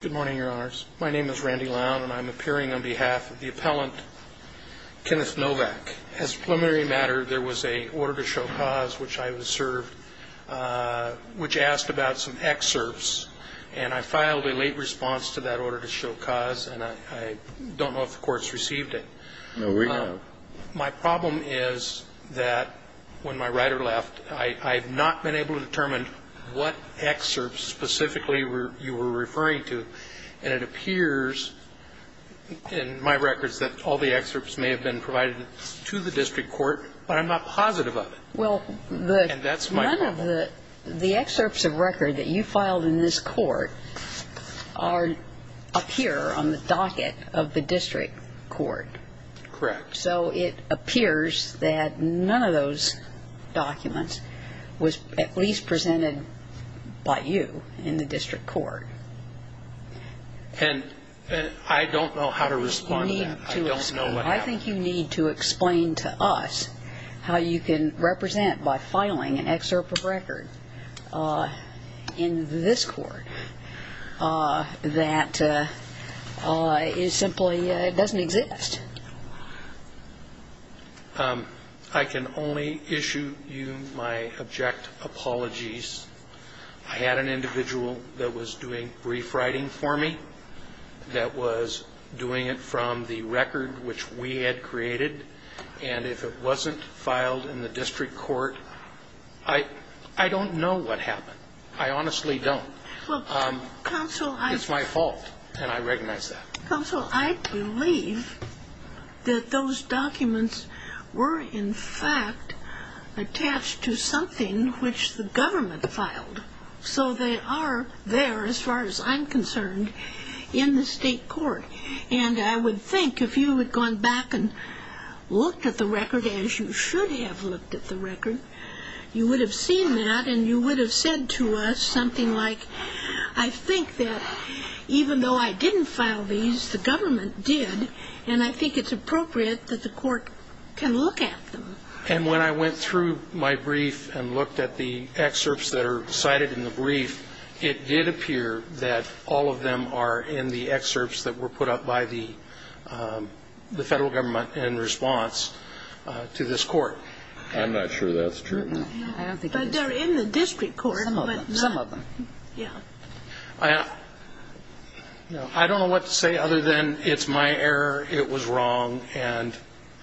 Good morning, Your Honors. My name is Randy Lowne, and I'm appearing on behalf of the appellant Kenneth Novak. As a preliminary matter, there was an order to show cause which I was served, which asked about some excerpts, and I filed a late response to that order to show cause, and I don't know if the courts received it. No, we don't. My problem is that when my writer left, I have not been able to determine what excerpts specifically you were referring to, and it appears in my records that all the excerpts may have been provided to the district court, but I'm not positive of it. And that's my problem. Well, none of the excerpts of record that you filed in this court appear on the docket of the district court. Correct. So it appears that none of those documents was at least presented by you in the district court. And I don't know how to respond to that. I think you need to explain to us how you can represent by filing an excerpt of record in this court that simply doesn't exist. I can only issue you my abject apologies. I had an individual that was doing brief writing for me, that was doing it from the record which we had created, and if it wasn't filed in the district court, I don't know what happened. I honestly don't. Counsel, I... It's my fault, and I recognize that. Counsel, I believe that those documents were, in fact, attached to something which the government filed. So they are there, as far as I'm concerned, in the state court. And I would think if you had gone back and looked at the record as you should have looked at the record, you would have seen that and you would have said to us something like, I think that even though I didn't file these, the government did, and I think it's appropriate that the court can look at them. And when I went through my brief and looked at the excerpts that are cited in the brief, it did appear that all of them are in the excerpts that were put up by the federal government in response to this court. I'm not sure that's true. But they're in the district court. Some of them. Yeah. I don't know what to say other than it's my error, it was wrong, and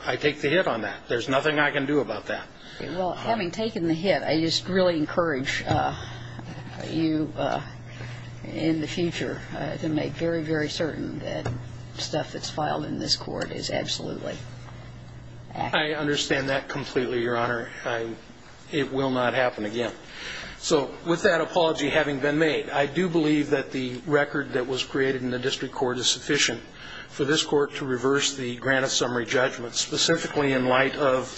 I take the hit on that. There's nothing I can do about that. Well, having taken the hit, I just really encourage you in the future to make very, very certain that stuff that's filed in this court is absolutely accurate. I understand that completely, Your Honor. It will not happen again. So with that apology having been made, I do believe that the record that was created in the district court is sufficient for this court to reverse the granite summary judgment, specifically in light of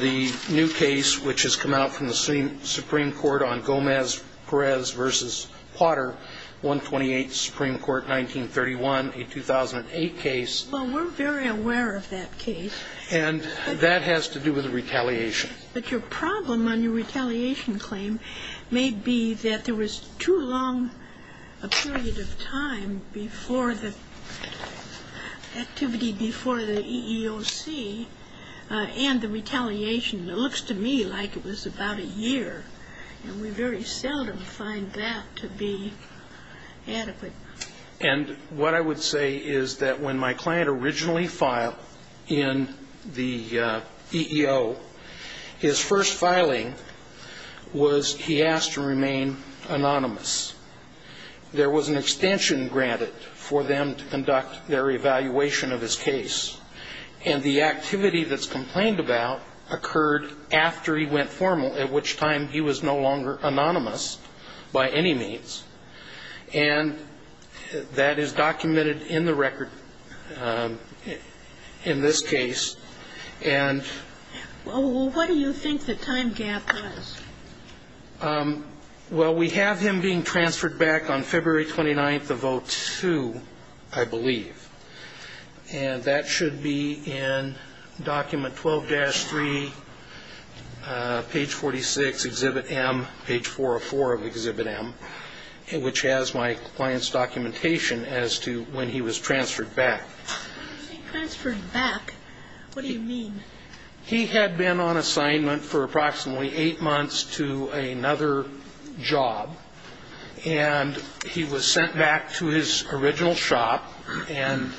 the new case which has come out from the Supreme Court on Gomez-Perez v. Potter, 128th Supreme Court, 1931, a 2008 case. Well, we're very aware of that case. And that has to do with retaliation. But your problem on your retaliation claim may be that there was too long a period of time before the activity before the EEOC and the retaliation. It looks to me like it was about a year. And we very seldom find that to be adequate. And what I would say is that when my client originally filed in the EEO, his first filing was he asked to remain anonymous. There was an extension granted for them to conduct their evaluation of his case. And the activity that's complained about occurred after he went formal, at which time he was no longer anonymous by any means. And that is documented in the record in this case. And ---- Well, what do you think the time gap is? Well, we have him being transferred back on February 29th of 02, I believe. And that should be in document 12-3, page 46, Exhibit M, page 404 of Exhibit M, which has my client's documentation as to when he was transferred back. When you say transferred back, what do you mean? He had been on assignment for approximately eight months to another job. And he was sent back to his original shop. And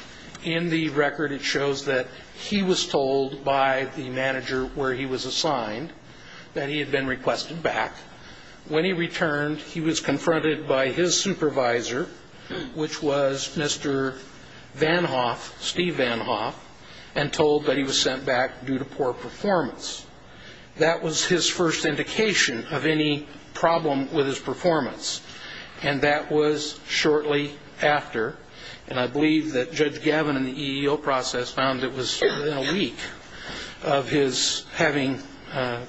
in the record it shows that he was told by the manager where he was assigned that he had been requested back. When he returned, he was confronted by his supervisor, which was Mr. Van Hoff, Steve Van Hoff, and told that he was sent back due to poor performance. That was his first indication of any problem with his performance. And that was shortly after. And I believe that Judge Gavin in the EEO process found it was within a week of his having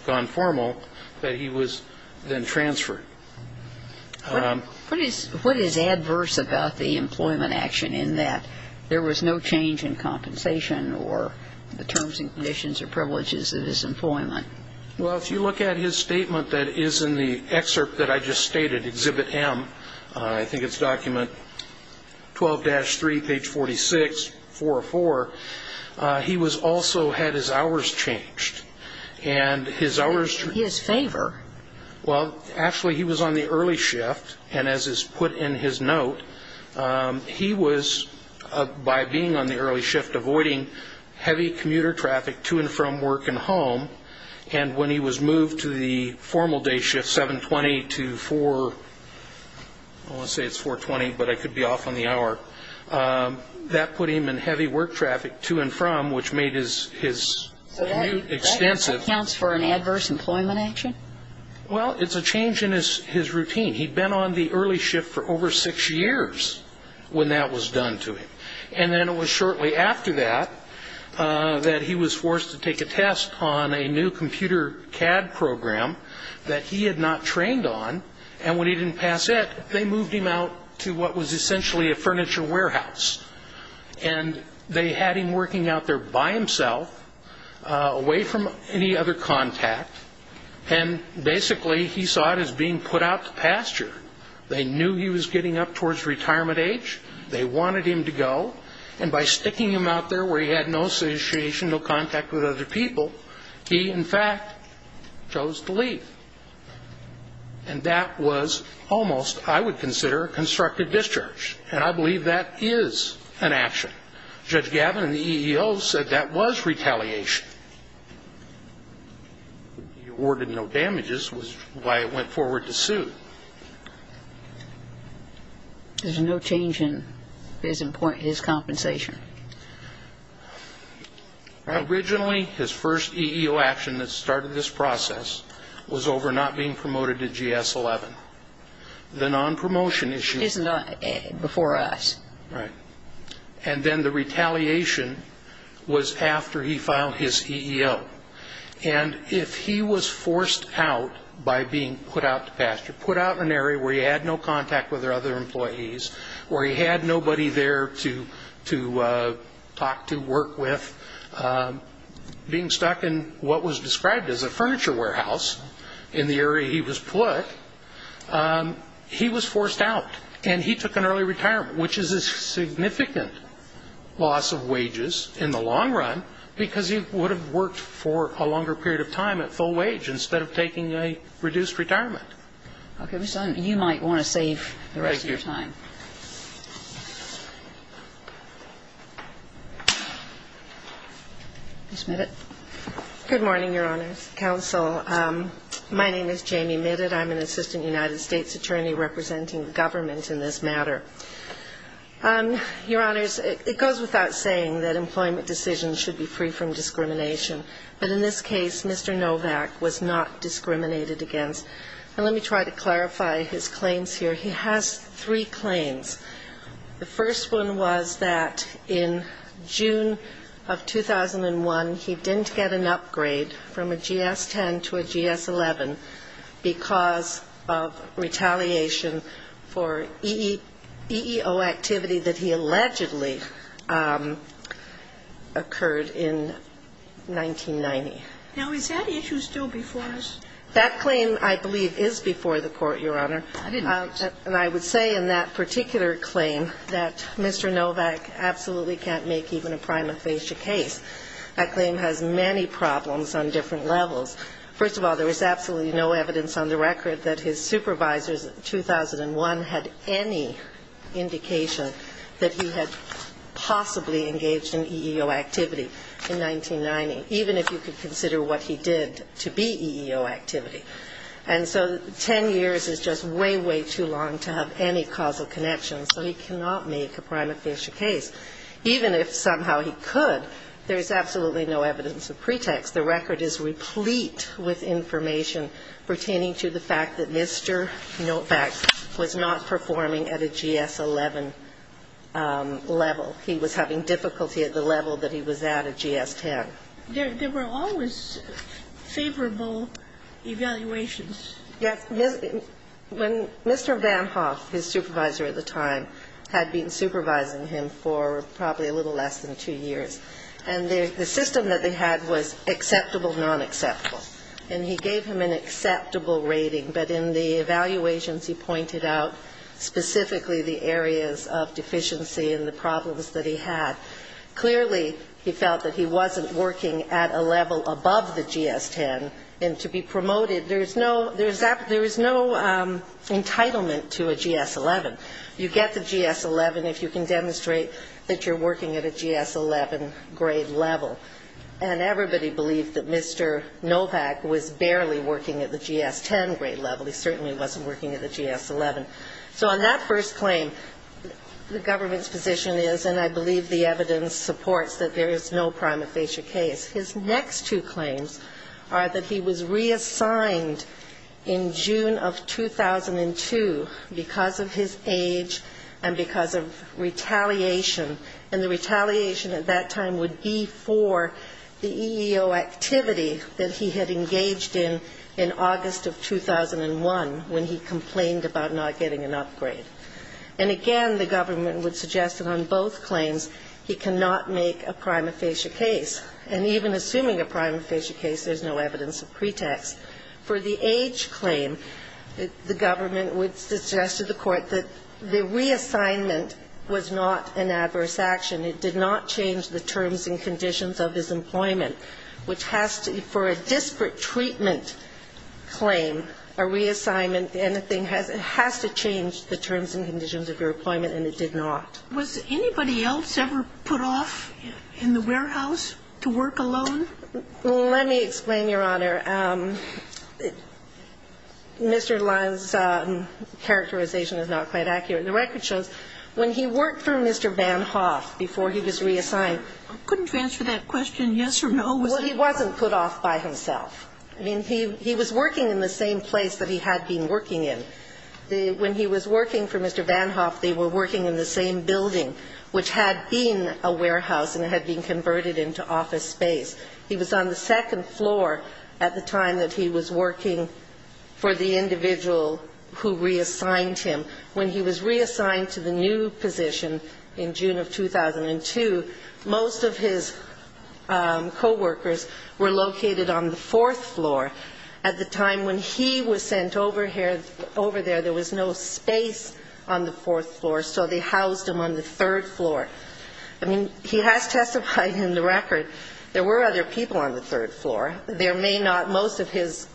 gone formal that he was then transferred. What is adverse about the employment action in that there was no change in compensation or the terms and conditions or privileges of his employment? Well, if you look at his statement that is in the excerpt that I just stated, Exhibit M, I think it's document 12-3, page 46, 404, he was also had his hours changed. And his hours changed. In his favor. Well, actually, he was on the early shift. And as is put in his note, he was, by being on the early shift, avoiding heavy commuter traffic to and from work and home. And when he was moved to the formal day shift, 7-20 to 4, I want to say it's 4-20, but I could be off on the hour, that put him in heavy work traffic to and from, which made his commute extensive. So that accounts for an adverse employment action? Well, it's a change in his routine. He'd been on the early shift for over six years when that was done to him. And then it was shortly after that that he was forced to take a test on a new computer CAD program that he had not trained on. And when he didn't pass it, they moved him out to what was essentially a furniture warehouse. And they had him working out there by himself, away from any other contact. And basically, he saw it as being put out to pasture. They knew he was getting up towards retirement age. They wanted him to go. And by sticking him out there where he had no association, no contact with other people, he, in fact, chose to leave. And that was almost, I would consider, constructive discharge. And I believe that is an action. Judge Gavin in the EEO said that was retaliation. He awarded no damages, which is why it went forward to suit. There's no change in his compensation? Originally, his first EEO action that started this process was over not being promoted to GS-11. The non-promotion issue. It's not before us. Right. And then the retaliation was after he filed his EEO. And if he was forced out by being put out to pasture, put out in an area where he had no contact with other employees, where he had nobody there to talk to, work with, being stuck in what was described as a furniture warehouse in the area he was put, he was forced out. And he took an early retirement, which is a significant loss of wages in the long run because he would have worked for a longer period of time at full wage instead of taking a reduced retirement. Okay. You might want to save the rest of your time. Ms. Midditt. Good morning, Your Honors. Counsel, my name is Jamie Midditt. I'm an assistant United States attorney representing the government in this matter. Your Honors, it goes without saying that employment decisions should be free from discrimination. But in this case, Mr. Novak was not discriminated against. And let me try to clarify his claims here. He has three claims. The first one was that in June of 2001, he didn't get an upgrade from a GS-10 to a GS-11 because of retaliation for EEO activity that he allegedly occurred in 1990. Now, is that issue still before us? That claim, I believe, is before the Court, Your Honor. I didn't know that. And I would say in that particular claim that Mr. Novak absolutely can't make even a prima facie case. That claim has many problems on different levels. First of all, there is absolutely no evidence on the record that his supervisors in 2001 had any indication that he had possibly engaged in EEO activity in 1990, even if you could consider what he did to be EEO activity. And so 10 years is just way, way too long to have any causal connections. So he cannot make a prima facie case. Even if somehow he could, there is absolutely no evidence of pretext. The record is replete with information pertaining to the fact that Mr. Novak was not performing at a GS-11 level. He was having difficulty at the level that he was at a GS-10. There were always favorable evaluations. Yes. When Mr. Van Hoff, his supervisor at the time, had been supervising him for probably a little less than two years, and the system that they had was acceptable, nonacceptable. And he gave him an acceptable rating. But in the evaluations, he pointed out specifically the areas of deficiency and the problems that he had. Clearly, he felt that he wasn't working at a level above the GS-10. And to be promoted, there is no entitlement to a GS-11. You get the GS-11 if you can demonstrate that you're working at a GS-11 grade level. And everybody believed that Mr. Novak was barely working at the GS-10 grade level. He certainly wasn't working at the GS-11. So on that first claim, the government's position is, and I believe the evidence supports, that there is no prima facie case. His next two claims are that he was reassigned in June of 2002 because of his age and because of retaliation. And the retaliation at that time would be for the EEO activity that he had engaged in in August of 2001, when he complained about not getting an upgrade. And again, the government would suggest that on both claims, he cannot make a prima facie case. And even assuming a prima facie case, there's no evidence of pretext. For the age claim, the government would suggest to the Court that the reassignment was not an adverse action. It did not change the terms and conditions of his employment, which has to be for a disparate treatment claim, a reassignment, anything has to change the terms and conditions of your employment, and it did not. Was anybody else ever put off in the warehouse to work alone? Let me explain, Your Honor. Mr. Lyle's characterization is not quite accurate. The record shows when he worked for Mr. Van Hoff before he was reassigned. I couldn't answer that question, yes or no. Well, he wasn't put off by himself. I mean, he was working in the same place that he had been working in. When he was working for Mr. Van Hoff, they were working in the same building, which had been a warehouse and had been converted into office space. He was on the second floor at the time that he was working for the individual who reassigned him. When he was reassigned to the new position in June of 2002, most of his coworkers were located on the fourth floor. At the time when he was sent over there, there was no space on the fourth floor, so they housed him on the third floor. I mean, he has testified in the record there were other people on the third floor. There may not, most of his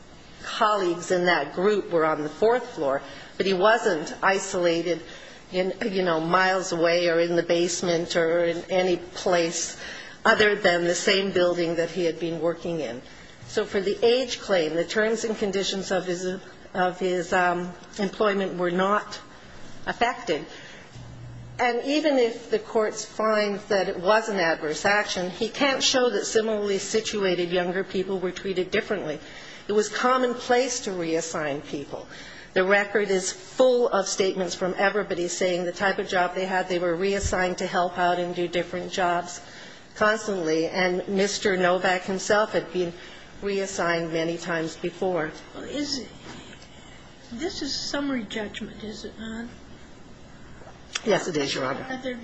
colleagues in that group were on the fourth floor, but he wasn't isolated, you know, miles away or in the basement or in any place other than the same building that he had been working in. So for the age claim, the terms and conditions of his employment were not affected. And even if the courts find that it was an adverse action, he can't show that similarly situated younger people were treated differently. It was commonplace to reassign people. The record is full of statements from everybody saying the type of job they had, they were reassigned to help out and do different jobs constantly. And Mr. Novak himself had been reassigned many times before. This is summary judgment, is it not? Yes, it is, Your Honor. Are there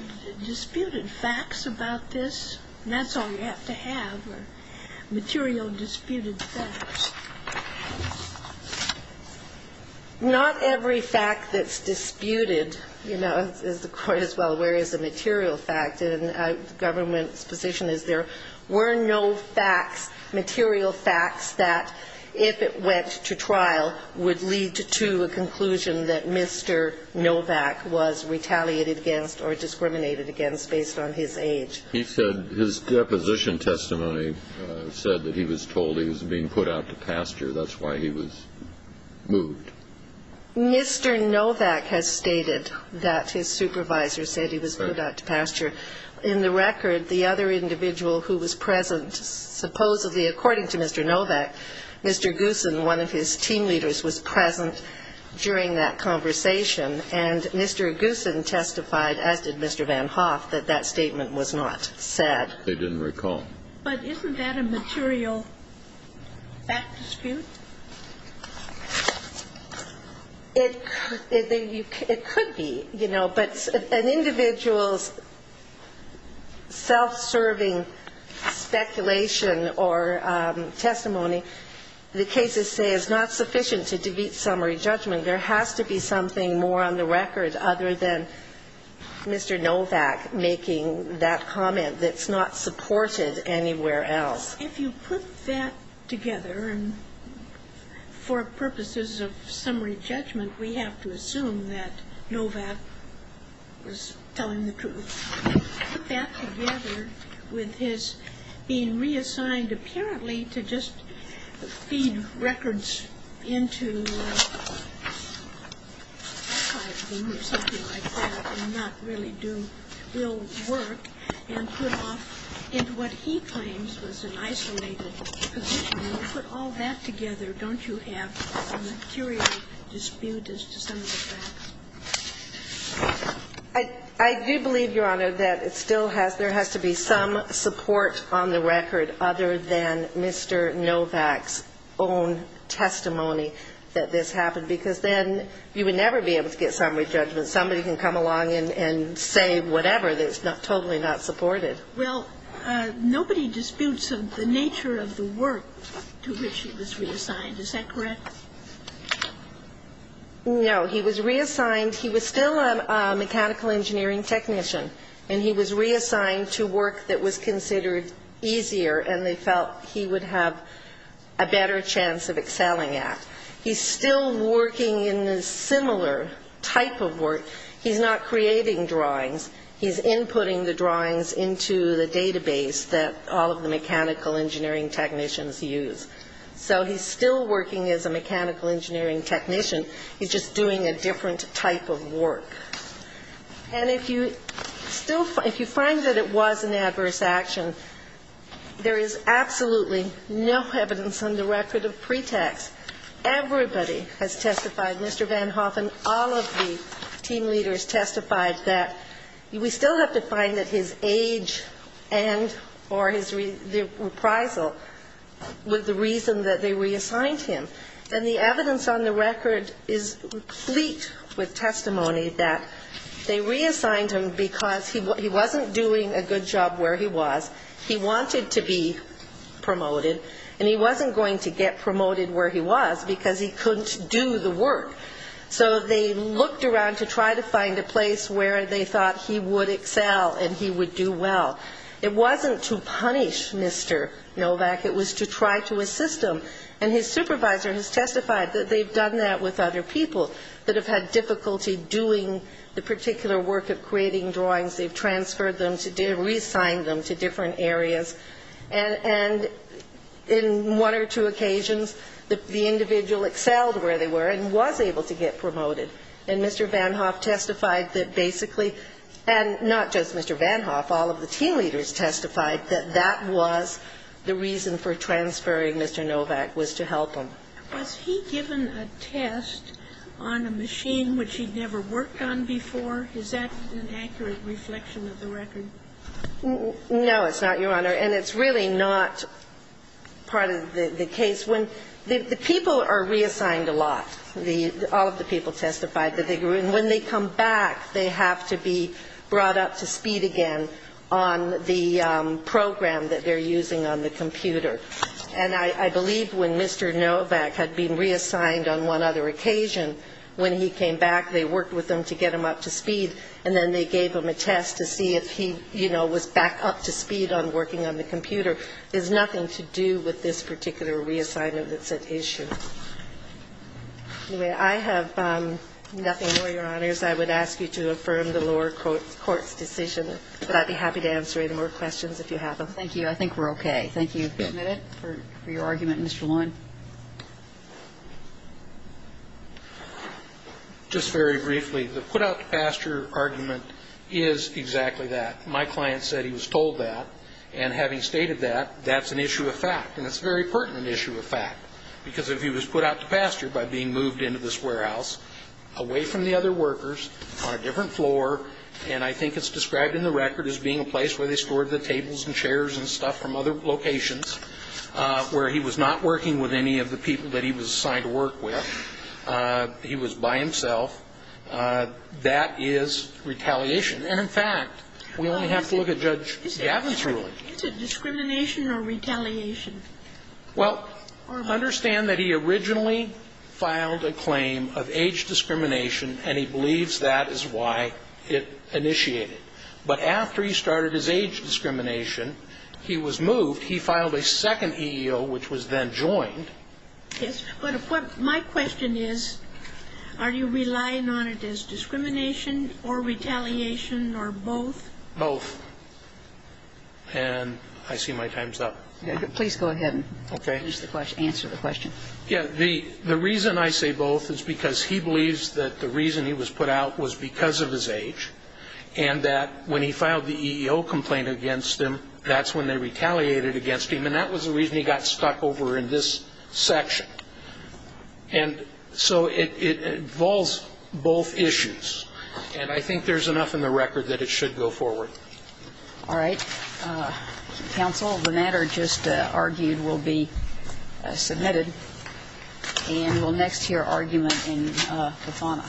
disputed facts about this? That's all you have to have are material disputed facts. Not every fact that's disputed, you know, is the court as well. Whereas a material fact in a government's position is there were no facts, material facts that if it went to trial would lead to a conclusion that Mr. Novak was retaliated against or discriminated against based on his age. He said his deposition testimony said that he was told he was being put out to pasture. That's why he was moved. Mr. Novak has stated that his supervisor said he was put out to pasture. In the record, the other individual who was present, supposedly according to Mr. Novak, Mr. Goossen, one of his team leaders, was present during that conversation. And Mr. Goossen testified, as did Mr. Van Hoff, that that statement was not said. They didn't recall. But isn't that a material fact dispute? It could be, you know. But an individual's self-serving speculation or testimony, the cases say, is not sufficient to defeat summary judgment. There has to be something more on the record other than Mr. Novak making that comment that's not supported anywhere else. If you put that together for purposes of summary judgment, we have to assume that Novak was telling the truth. If you put that together with his being reassigned apparently to just feed records into archives or something like that and not really do real work and put off into what he claims was an isolated position, when you put all that together, don't you have a material dispute as to some of the facts? I do believe, Your Honor, that it still has to be some support on the record other than Mr. Novak's own testimony that this happened, because then you would never be able to get summary judgment. Somebody can come along and say whatever that's totally not supported. Well, nobody disputes the nature of the work to which he was reassigned. Is that correct? No. He was reassigned. He was still a mechanical engineering technician, and he was reassigned to work that was considered easier and they felt he would have a better chance of excelling at. He's still working in a similar type of work. He's not creating drawings. He's inputting the drawings into the database that all of the mechanical engineering technicians use. So he's still working as a mechanical engineering technician. He's just doing a different type of work. And if you find that it was an adverse action, there is absolutely no evidence on the record of pretext. Everybody has testified, Mr. Van Hoff and all of the team leaders testified that we still have to find that his age and or his reprisal was the reason that they reassigned him. And the evidence on the record is complete with testimony that they reassigned him because he wasn't doing a good job where he was. He wanted to be promoted, and he wasn't going to get promoted where he was because he couldn't do the work. So they looked around to try to find a place where they thought he would excel and he would do well. It wasn't to punish Mr. Novak. It was to try to assist him. And his supervisor has testified that they've done that with other people that have had difficulty doing the particular work of creating drawings. They've transferred them, reassigned them to different areas. And in one or two occasions, the individual excelled where they were and was able to get promoted. And Mr. Van Hoff testified that basically, and not just Mr. Van Hoff, all of the team leaders testified that that was the reason for transferring Mr. Novak was to help him. Was he given a test on a machine which he'd never worked on before? Is that an accurate reflection of the record? No, it's not, Your Honor. And it's really not part of the case. The people are reassigned a lot. All of the people testified that they grew. And when they come back, they have to be brought up to speed again on the program that they're using on the computer. And I believe when Mr. Novak had been reassigned on one other occasion, when he came back, they worked with him to get him up to speed, and then they gave him a nothing to do with this particular reassignment that's at issue. Anyway, I have nothing more, Your Honors. I would ask you to affirm the lower court's decision. But I'd be happy to answer any more questions if you have them. Thank you. I think we're okay. Thank you, Mr. Schmidt, for your argument. Mr. Warren? Just very briefly, the put-out-to-pasture argument is exactly that. My client said he was told that. And having stated that, that's an issue of fact. And it's a very pertinent issue of fact. Because if he was put out to pasture by being moved into this warehouse, away from the other workers, on a different floor, and I think it's described in the record as being a place where they stored the tables and chairs and stuff from other locations, where he was not working with any of the people that he was assigned to work with, he was by himself, that is retaliation. And in fact, we only have to look at Judge Gavin's ruling. Is it discrimination or retaliation? Well, understand that he originally filed a claim of age discrimination, and he believes that is why it initiated. But after he started his age discrimination, he was moved. He filed a second EEO, which was then joined. Yes, but my question is, are you relying on it as discrimination or retaliation or both? Both. And I see my time's up. Please go ahead and answer the question. Yeah, the reason I say both is because he believes that the reason he was put out was because of his age, and that when he filed the EEO complaint against him, that's when they retaliated against him. And that was the reason he got stuck over in this section. And so it involves both issues. And I think there's enough in the record that it should go forward. All right. Counsel, the matter just argued will be submitted, and we'll next hear argument in the fauna.